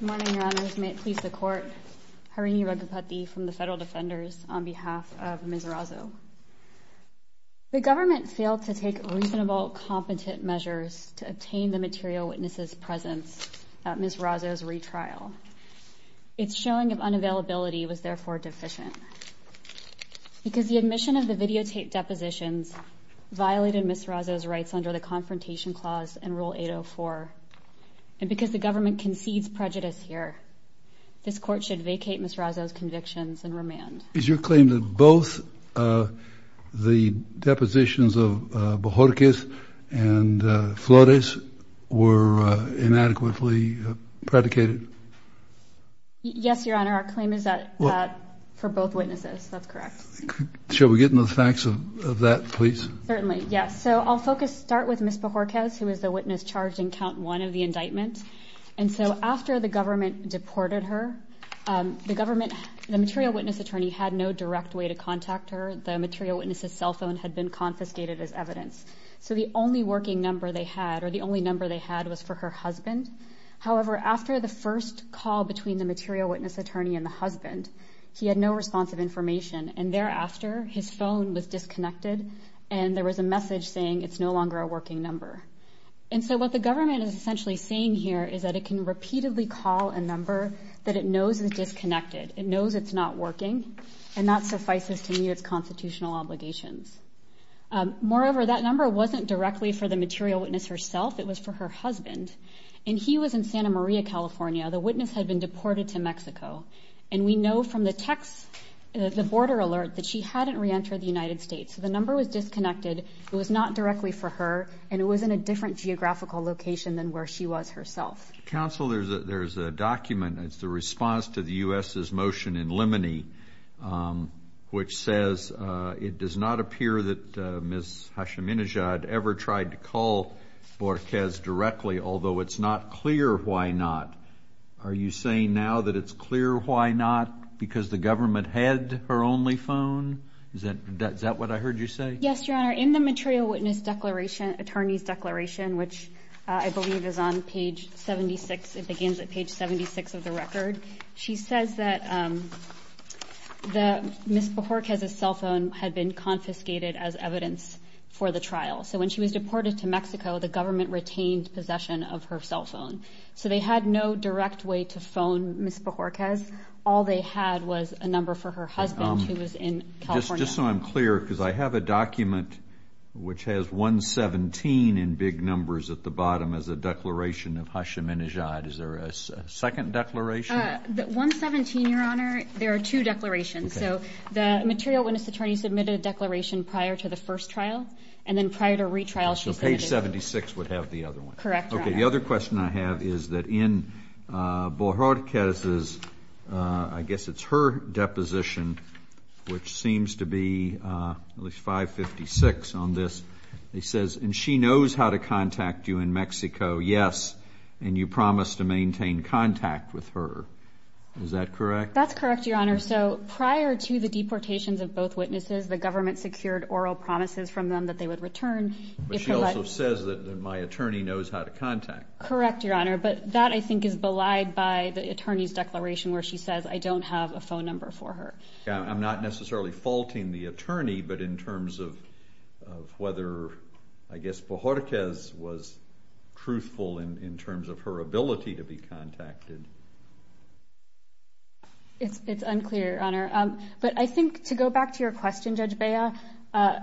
Good morning, Your Honors. May it please the Court, Harini Raghupati from the Federal Defenders, on behalf of Ms. Razo. The government failed to take reasonable, competent measures to obtain the material witness's presence at Ms. Razo's retrial. Its showing of unavailability was therefore deficient. Because the admission of the videotaped depositions violated Ms. Razo's rights under the Confrontation Clause and Rule 804, and because the government concedes prejudice here, this Court should vacate Ms. Razo's convictions and remand. Is your claim that both the depositions of Bohorkis and Flores were inadequately predicated? Yes, Your Honor. Our claim is that for both witnesses. That's correct. Shall we get into the facts of that, please? Certainly. Yes. So I'll start with Ms. Bohorkis, who was the witness charged in Count 1 of the indictment. And so after the government deported her, the material witness attorney had no direct way to contact her. The material witness's cell phone had been confiscated as evidence. So the only working number they had, or the only number they had, was for her husband. However, after the first call between the material witness attorney and the husband, he had no response of information. And thereafter, his phone was disconnected, and there was a message saying it's no longer a working number. And so what the government is essentially saying here is that it can repeatedly call a number that it knows is disconnected, it knows it's not working, and that suffices to meet its constitutional obligations. Moreover, that number wasn't directly for the material witness herself, it was for her husband. And he was in Santa Maria, California. The witness had been deported to Mexico. And we know from the text, the border alert, that she hadn't reentered the United States. So the number was disconnected. It was not directly for her, and it was in a different geographical location than where she was herself. Counsel, there's a document. It's the response to the U.S.'s motion in Limoney, which says it does not appear that Ms. Hashim-Inajad ever tried to call Bohorkis directly, although it's not clear why not. Are you saying now that it's clear why not, because the government had her only phone? Is that what I heard you say? Yes, Your Honor. In the material witness attorney's declaration, which I believe is on page 76, it begins at page 76 of the record, she says that Ms. Bohorkis' cell phone had been confiscated as evidence for the trial. So when she was deported to Mexico, the government retained possession of her cell phone. So they had no direct way to phone Ms. Bohorkis. All they had was a number for her husband, who was in California. Just so I'm clear, because I have a document which has 117 in big numbers at the bottom as a declaration of Hashim-Inajad. Is there a second declaration? 117, Your Honor. There are two declarations. So the material witness attorney submitted a declaration prior to the first trial, and then prior to retrial she submitted one. So page 76 would have the other one. Correct, Your Honor. Okay. The other question I have is that in Bohorkis' ‑‑ I guess it's her deposition, which seems to be at least 556 on this. It says, and she knows how to contact you in Mexico, yes, and you promise to maintain contact with her. Is that correct? That's correct, Your Honor. So prior to the deportations of both witnesses, the government secured oral promises from them that they would return. But she also says that my attorney knows how to contact me. Correct, Your Honor. But that, I think, is belied by the attorney's declaration where she says, I don't have a phone number for her. I'm not necessarily faulting the attorney, but in terms of whether, I guess, Bohorkis was truthful in terms of her ability to be contacted. It's unclear, Your Honor. But I think, to go back to your question, Judge Bea,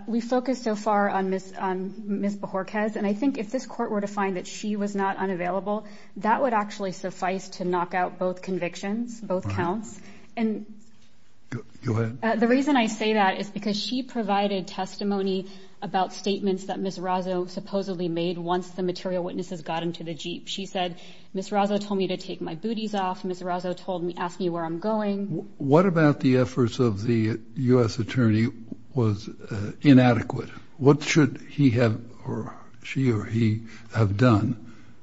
we focused so far on Ms. Bohorkis, and I think if this court were to find that she was not unavailable, that would actually suffice to knock out both convictions, both counts. Go ahead. The reason I say that is because she provided testimony about statements that Ms. Razo supposedly made once the material witnesses got into the Jeep. She said, Ms. Razo told me to take my booties off. Ms. Razo asked me where I'm going. What about the efforts of the U.S. attorney was inadequate? What should he have or she or he have done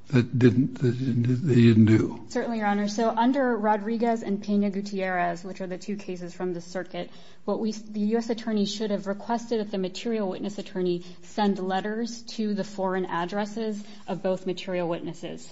that they didn't do? Certainly, Your Honor. So under Rodriguez and Pena Gutierrez, which are the two cases from the circuit, the U.S. attorney should have requested that the material witness attorney send letters to the foreign addresses of both material witnesses.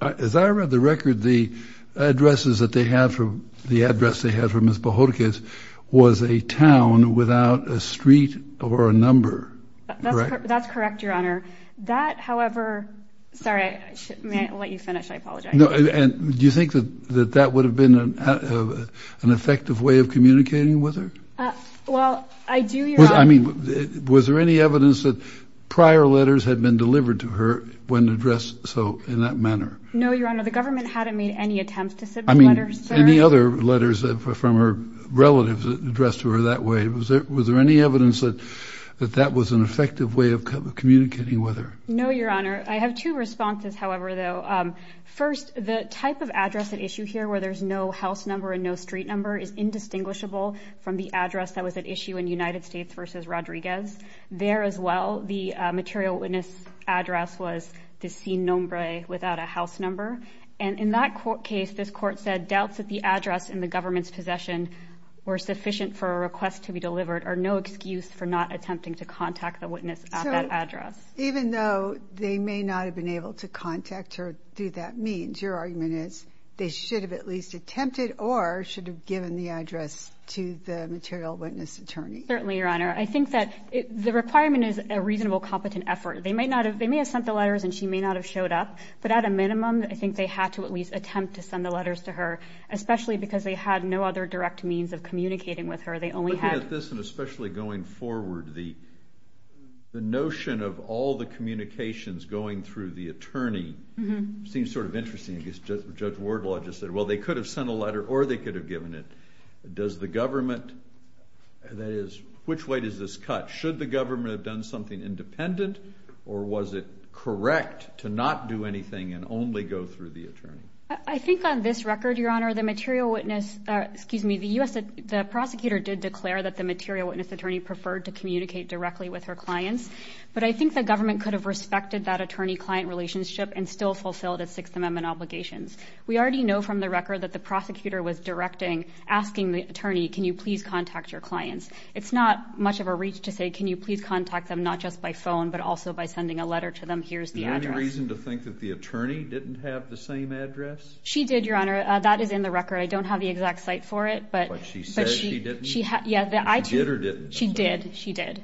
As I read the record, the addresses that they had from Ms. Bohorkis was a town without a street or a number. That's correct, Your Honor. That, however, sorry, I shouldn't let you finish. I apologize. And do you think that that would have been an effective way of communicating with her? Well, I do. I mean, was there any evidence that prior letters had been delivered to her when addressed so in that manner? No, Your Honor. The government hadn't made any attempts to send letters. Any other letters from her relatives addressed to her that way? Was there any evidence that that was an effective way of communicating with her? No, Your Honor. I have two responses, however, though. First, the type of address at issue here, where there's no house number and no street number, is indistinguishable from the address that was at issue in United States v. Rodriguez. There as well, the material witness address was the same number without a house number. And in that case, this court said, doubts that the address in the government's possession were sufficient for a request to be delivered are no excuse for not attempting to contact the witness at that address. Even though they may not have been able to contact her through that means, your argument is they should have at least attempted or should have given the address to the material witness attorney. Certainly, Your Honor. I think that the requirement is a reasonable, competent effort. They may have sent the letters and she may not have showed up, but at a minimum, I think they had to at least attempt to send the letters to her, especially because they had no other direct means of communicating with her. Looking at this and especially going forward, the notion of all the communications going through the attorney seems sort of interesting. Judge Wardlaw just said, well, they could have sent a letter or they could have given it. Does the government, which way does this cut? Should the government have done something independent or was it correct to not do anything and only go through the attorney? I think on this record, Your Honor, the material witness, excuse me, the prosecutor did declare that the material witness attorney preferred to communicate directly with her clients, but I think the government could have respected that attorney-client relationship and still fulfilled its Sixth Amendment obligations. We already know from the record that the prosecutor was directing, asking the attorney, can you please contact your clients? It's not much of a reach to say can you please contact them not just by phone but also by sending a letter to them, here's the address. Is there any reason to think that the attorney didn't have the same address? She did, Your Honor. That is in the record. I don't have the exact site for it. But she said she didn't? She did or didn't? She did. She did.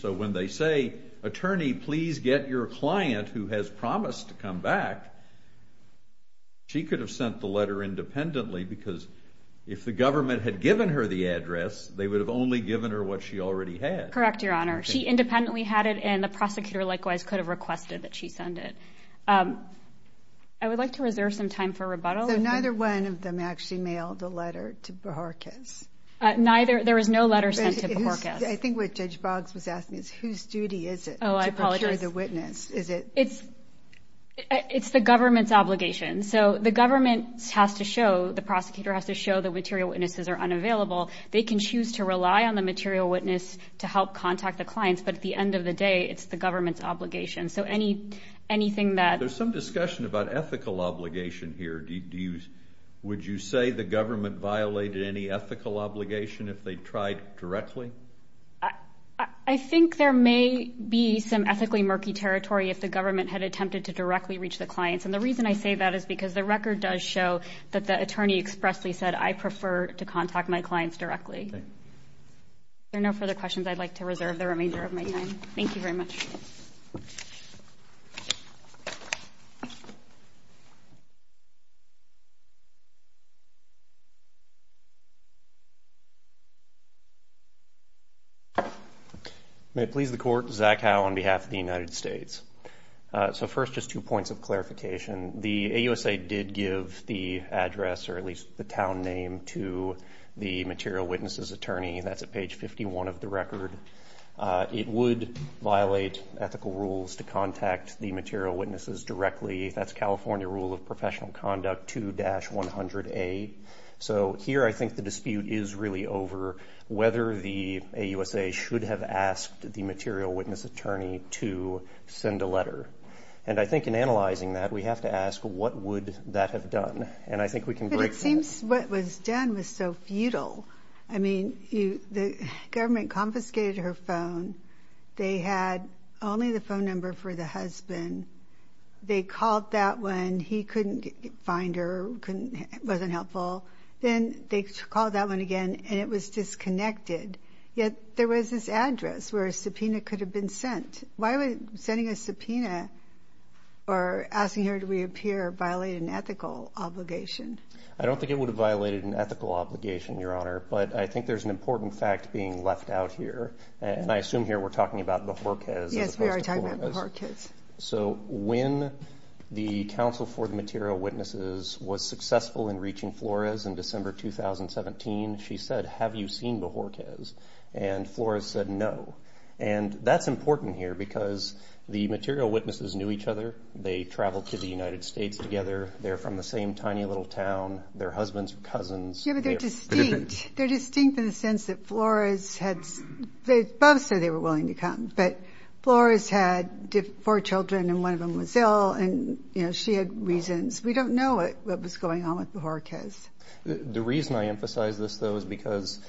So when they say, attorney, please get your client who has promised to come back, she could have sent the letter independently because if the government had given her the address, they would have only given her what she already had. Correct, Your Honor. She independently had it and the prosecutor likewise could have requested that she send it. I would like to reserve some time for rebuttal. So neither one of them actually mailed a letter to Bohorkes? Neither. There was no letter sent to Bohorkes. I think what Judge Boggs was asking is whose duty is it to procure the witness? It's the government's obligation. So the government has to show, the prosecutor has to show the material witnesses are unavailable. They can choose to rely on the material witness to help contact the clients, but at the end of the day it's the government's obligation. There's some discussion about ethical obligation here. Would you say the government violated any ethical obligation if they tried directly? I think there may be some ethically murky territory if the government had attempted to directly reach the clients, and the reason I say that is because the record does show that the attorney expressly said, I prefer to contact my clients directly. If there are no further questions, I'd like to reserve the remainder of my time. Thank you very much. May it please the Court. Zach Howe on behalf of the United States. First, just two points of clarification. The AUSA did give the address, or at least the town name, to the material witnesses attorney. That's at page 51 of the record. It would violate ethical rules to contact the material witnesses directly. That's California Rule of Professional Conduct 2-100A. So here I think the dispute is really over whether the AUSA should have asked the material witness attorney to send a letter, and I think in analyzing that we have to ask what would that have done, and I think we can break from that. But it seems what was done was so futile. I mean, the government confiscated her phone. They had only the phone number for the husband. They called that one. He couldn't find her. It wasn't helpful. Then they called that one again, and it was disconnected. Yet there was this address where a subpoena could have been sent. Why would sending a subpoena or asking her to reappear violate an ethical obligation? I don't think it would have violated an ethical obligation, Your Honor, but I think there's an important fact being left out here, and I assume here we're talking about Bohorquez as opposed to Flores. Yes, we are talking about Bohorquez. So when the counsel for the material witnesses was successful in reaching Flores in December 2017, she said, Have you seen Bohorquez? And Flores said, No. And that's important here because the material witnesses knew each other. They traveled to the United States together. They're from the same tiny little town. They're husbands or cousins. Yeah, but they're distinct. They're distinct in the sense that Flores had – they both said they were willing to come, but Flores had four children and one of them was ill, and, you know, she had reasons. We don't know what was going on with Bohorquez. The reason I emphasize this, though, is because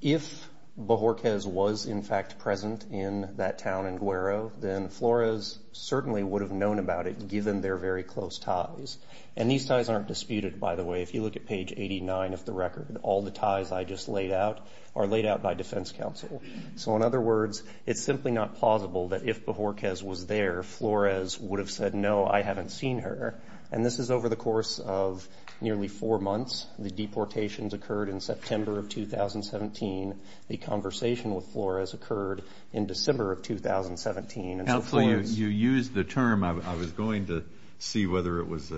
if Bohorquez was, in fact, present in that town in Guero, then Flores certainly would have known about it given their very close ties. And these ties aren't disputed, by the way. If you look at page 89 of the record, all the ties I just laid out are laid out by defense counsel. So, in other words, it's simply not plausible that if Bohorquez was there, Flores would have said, No, I haven't seen her. And this is over the course of nearly four months. The deportations occurred in September of 2017. The conversation with Flores occurred in December of 2017. You used the term – I was going to see whether it was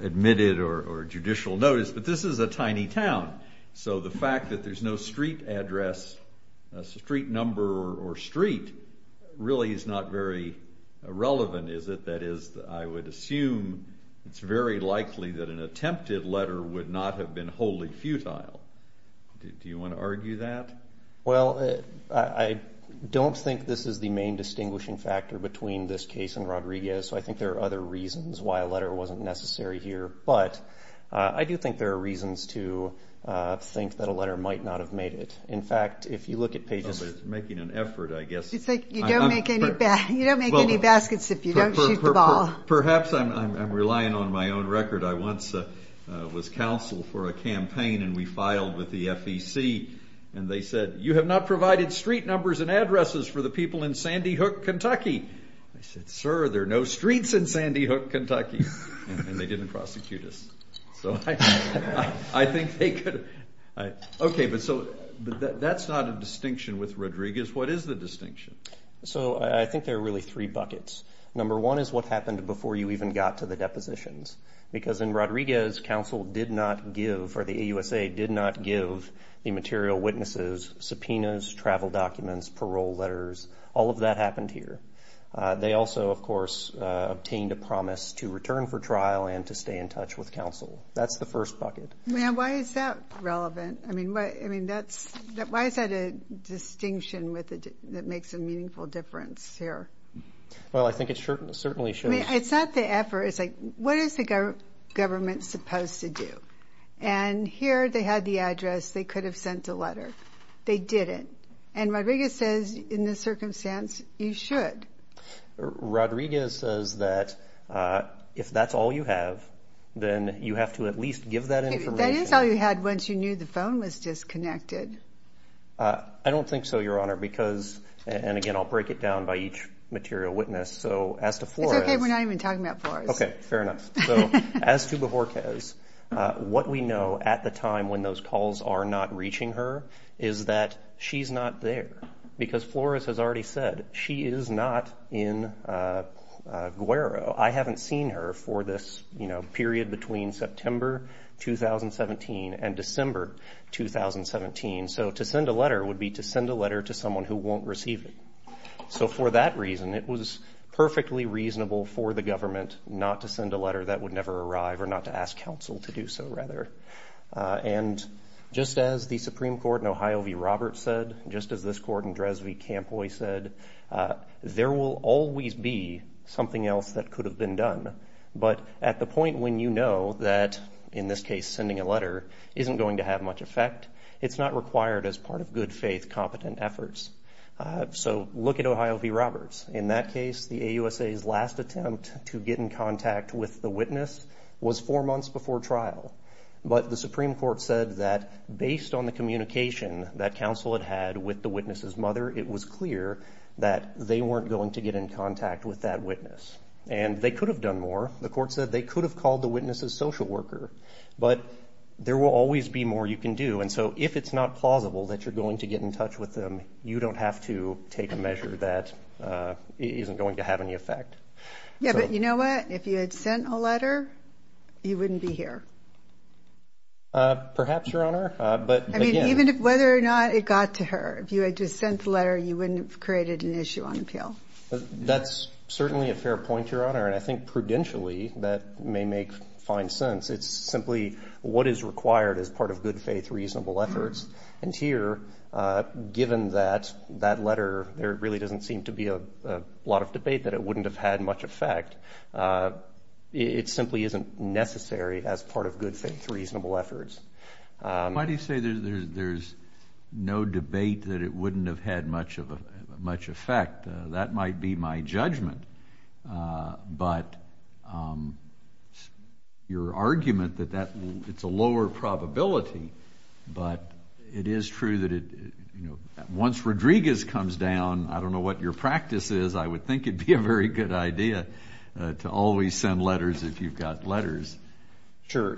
admitted or judicial notice, but this is a tiny town, so the fact that there's no street address, street number or street really is not very relevant, is it? That is, I would assume it's very likely that an attempted letter would not have been wholly futile. Do you want to argue that? Well, I don't think this is the main distinguishing factor between this case and Rodriguez, so I think there are other reasons why a letter wasn't necessary here. But I do think there are reasons to think that a letter might not have made it. In fact, if you look at pages – But it's making an effort, I guess. It's like you don't make any baskets if you don't shoot the ball. Perhaps I'm relying on my own record. I once was counsel for a campaign, and we filed with the FEC, and they said, you have not provided street numbers and addresses for the people in Sandy Hook, Kentucky. I said, sir, there are no streets in Sandy Hook, Kentucky, and they didn't prosecute us. So I think they could have. Okay, but that's not a distinction with Rodriguez. What is the distinction? So I think there are really three buckets. Number one is what happened before you even got to the depositions because in Rodriguez, counsel did not give, or the AUSA did not give, the material, witnesses, subpoenas, travel documents, parole letters. All of that happened here. They also, of course, obtained a promise to return for trial and to stay in touch with counsel. That's the first bucket. Why is that relevant? I mean, why is that a distinction that makes a meaningful difference here? Well, I think it certainly shows. I mean, it's not the effort. It's like, what is the government supposed to do? And here they had the address. They could have sent a letter. They didn't. And Rodriguez says, in this circumstance, you should. Rodriguez says that if that's all you have, then you have to at least give that information. That is all you had once you knew the phone was disconnected. I don't think so, Your Honor, because, and again, I'll break it down by each material witness. So as to Flores. It's okay. We're not even talking about Flores. Okay. Fair enough. So as to Bohorquez, what we know at the time when those calls are not reaching her is that she's not there. Because Flores has already said, she is not in Guero. I haven't seen her for this, you know, period between September 2017 and December 2017. So to send a letter would be to send a letter to someone who won't receive it. So for that reason, it was perfectly reasonable for the government not to send a letter that would never arrive or not to ask counsel to do so, rather. And just as the Supreme Court in Ohio v. Roberts said, just as this court in Dresden v. Campoy said, there will always be something else that could have been done. But at the point when you know that, in this case, sending a letter isn't going to have much effect, it's not required as part of good faith, competent efforts. So look at Ohio v. Roberts. In that case, the AUSA's last attempt to get in contact with the witness was four months before trial. But the Supreme Court said that based on the communication that counsel had had with the witness's mother, it was clear that they weren't going to get in contact with that witness. And they could have done more. The court said they could have called the witness's social worker. But there will always be more you can do. And so if it's not plausible that you're going to get in touch with them, you don't have to take a measure that isn't going to have any effect. Yeah, but you know what? If you had sent a letter, you wouldn't be here. Perhaps, Your Honor. I mean, even whether or not it got to her, if you had just sent the letter, you wouldn't have created an issue on appeal. That's certainly a fair point, Your Honor. And I think prudentially that may make fine sense. It's simply what is required as part of good faith, reasonable efforts. And here, given that letter, there really doesn't seem to be a lot of debate that it wouldn't have had much effect. It simply isn't necessary as part of good faith, reasonable efforts. Why do you say there's no debate that it wouldn't have had much effect? That might be my judgment. But your argument that it's a lower probability, but it is true that once Rodriguez comes down, I don't know what your practice is. I would think it would be a very good idea to always send letters if you've got letters. Sure.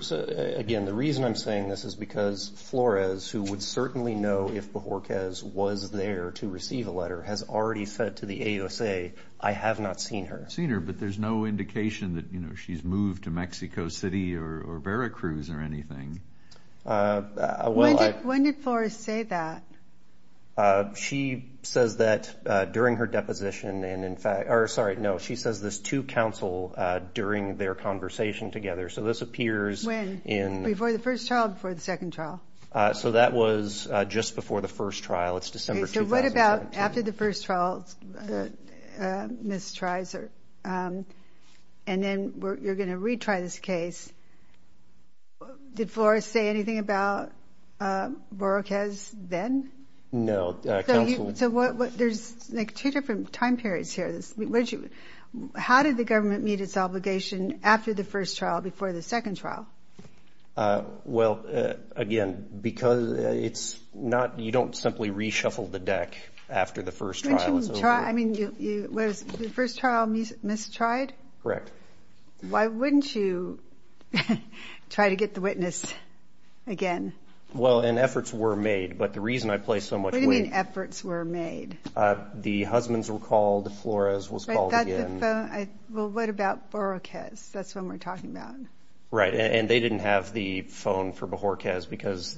Again, the reason I'm saying this is because Flores, who would certainly know if Borges was there to receive a letter, has already said to the AUSA, I have not seen her. Seen her, but there's no indication that she's moved to Mexico City or Veracruz or anything. When did Flores say that? She says that during her deposition. Sorry, no. She says this to counsel during their conversation together. So this appears in – When? Before the first trial or before the second trial? So that was just before the first trial. It's December 2017. After the first trial, Ms. Treiser, and then you're going to retry this case. Did Flores say anything about Borges then? No. So there's like two different time periods here. How did the government meet its obligation after the first trial, before the second trial? Well, again, because it's not – you don't simply reshuffle the deck after the first trial. I mean, was the first trial mistried? Correct. Why wouldn't you try to get the witness again? Well, and efforts were made, but the reason I place so much weight – What do you mean efforts were made? The husbands were called. Flores was called again. Well, what about Borges? That's what we're talking about. Right, and they didn't have the phone for Borges because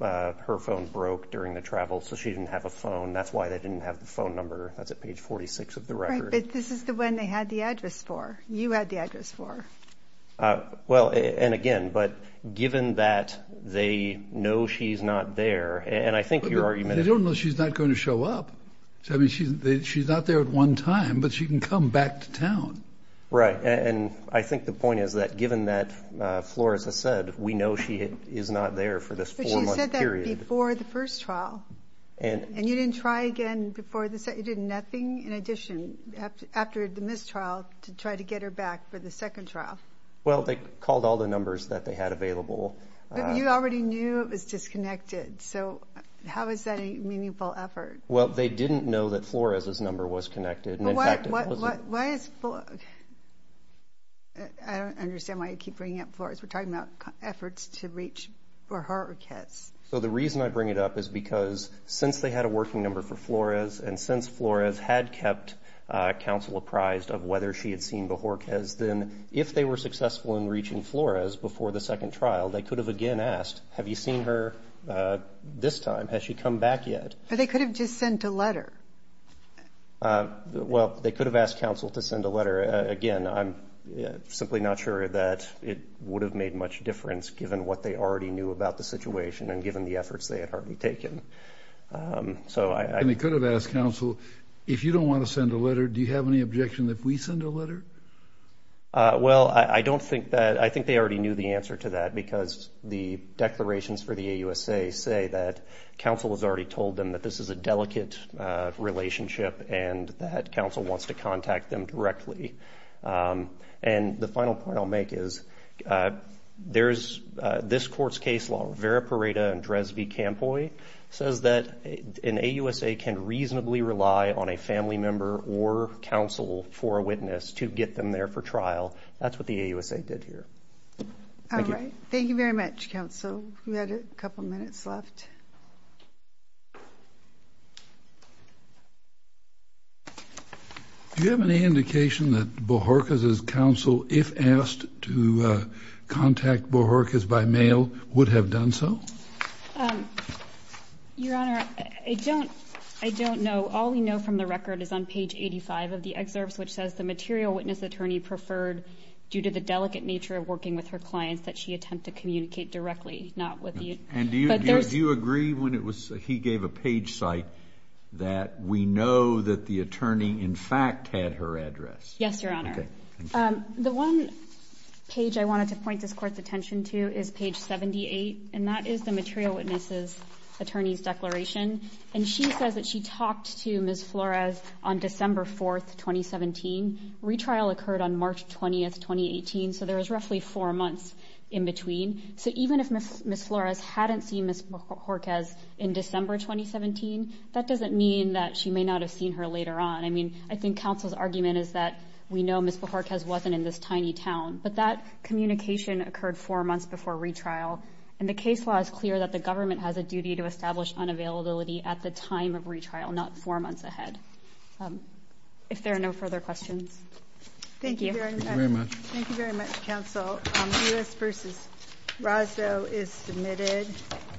her phone broke during the travel, so she didn't have a phone. That's why they didn't have the phone number. That's at page 46 of the record. Right, but this is the one they had the address for. You had the address for. Well, and again, but given that they know she's not there, and I think your argument is – They don't know she's not going to show up. I mean, she's not there at one time, but she can come back to town. Right, and I think the point is that given that Flores has said, we know she is not there for this four-month period. But she said that before the first trial, and you didn't try again before the – you did nothing in addition after the mistrial to try to get her back for the second trial. Well, they called all the numbers that they had available. But you already knew it was disconnected, so how is that a meaningful effort? Well, they didn't know that Flores' number was connected. Well, why is – I don't understand why you keep bringing up Flores. We're talking about efforts to reach Bohorquez. So the reason I bring it up is because since they had a working number for Flores and since Flores had kept counsel apprised of whether she had seen Bohorquez, then if they were successful in reaching Flores before the second trial, they could have again asked, have you seen her this time? Has she come back yet? But they could have just sent a letter. Well, they could have asked counsel to send a letter. Again, I'm simply not sure that it would have made much difference, given what they already knew about the situation and given the efforts they had already taken. And they could have asked counsel, if you don't want to send a letter, do you have any objection that we send a letter? Well, I don't think that – I think they already knew the answer to that because the declarations for the AUSA say that counsel has already told them that this is a delicate relationship and that counsel wants to contact them directly. And the final point I'll make is there's – this court's case law, Vera Pareda and Dresby-Campoy, says that an AUSA can reasonably rely on a family member or counsel for a witness to get them there for trial. That's what the AUSA did here. Thank you. All right. Thank you very much, counsel. We had a couple minutes left. Do you have any indication that Bohorquez's counsel, if asked to contact Bohorquez by mail, would have done so? Your Honor, I don't know. All we know from the record is on page 85 of the excerpts, which says the material witness attorney preferred, due to the delicate nature of working with her clients, that she attempt to communicate directly, not with you. And do you agree when he gave a page cite that we know that the attorney, in fact, had her address? Yes, Your Honor. Okay. Thank you. The one page I wanted to point this court's attention to is page 78, and that is the material witness attorney's declaration. And she says that she talked to Ms. Flores on December 4, 2017. Retrial occurred on March 20, 2018, so there was roughly four months. in between. So even if Ms. Flores hadn't seen Ms. Bohorquez in December 2017, that doesn't mean that she may not have seen her later on. I mean, I think counsel's argument is that we know Ms. Bohorquez wasn't in this tiny town, but that communication occurred four months before retrial. And the case law is clear that the government has a duty to establish unavailability at the time of retrial, not four months ahead. If there are no further questions. Thank you. Thank you very much. Thank you very much, counsel. U.S. v. Rosso is submitted.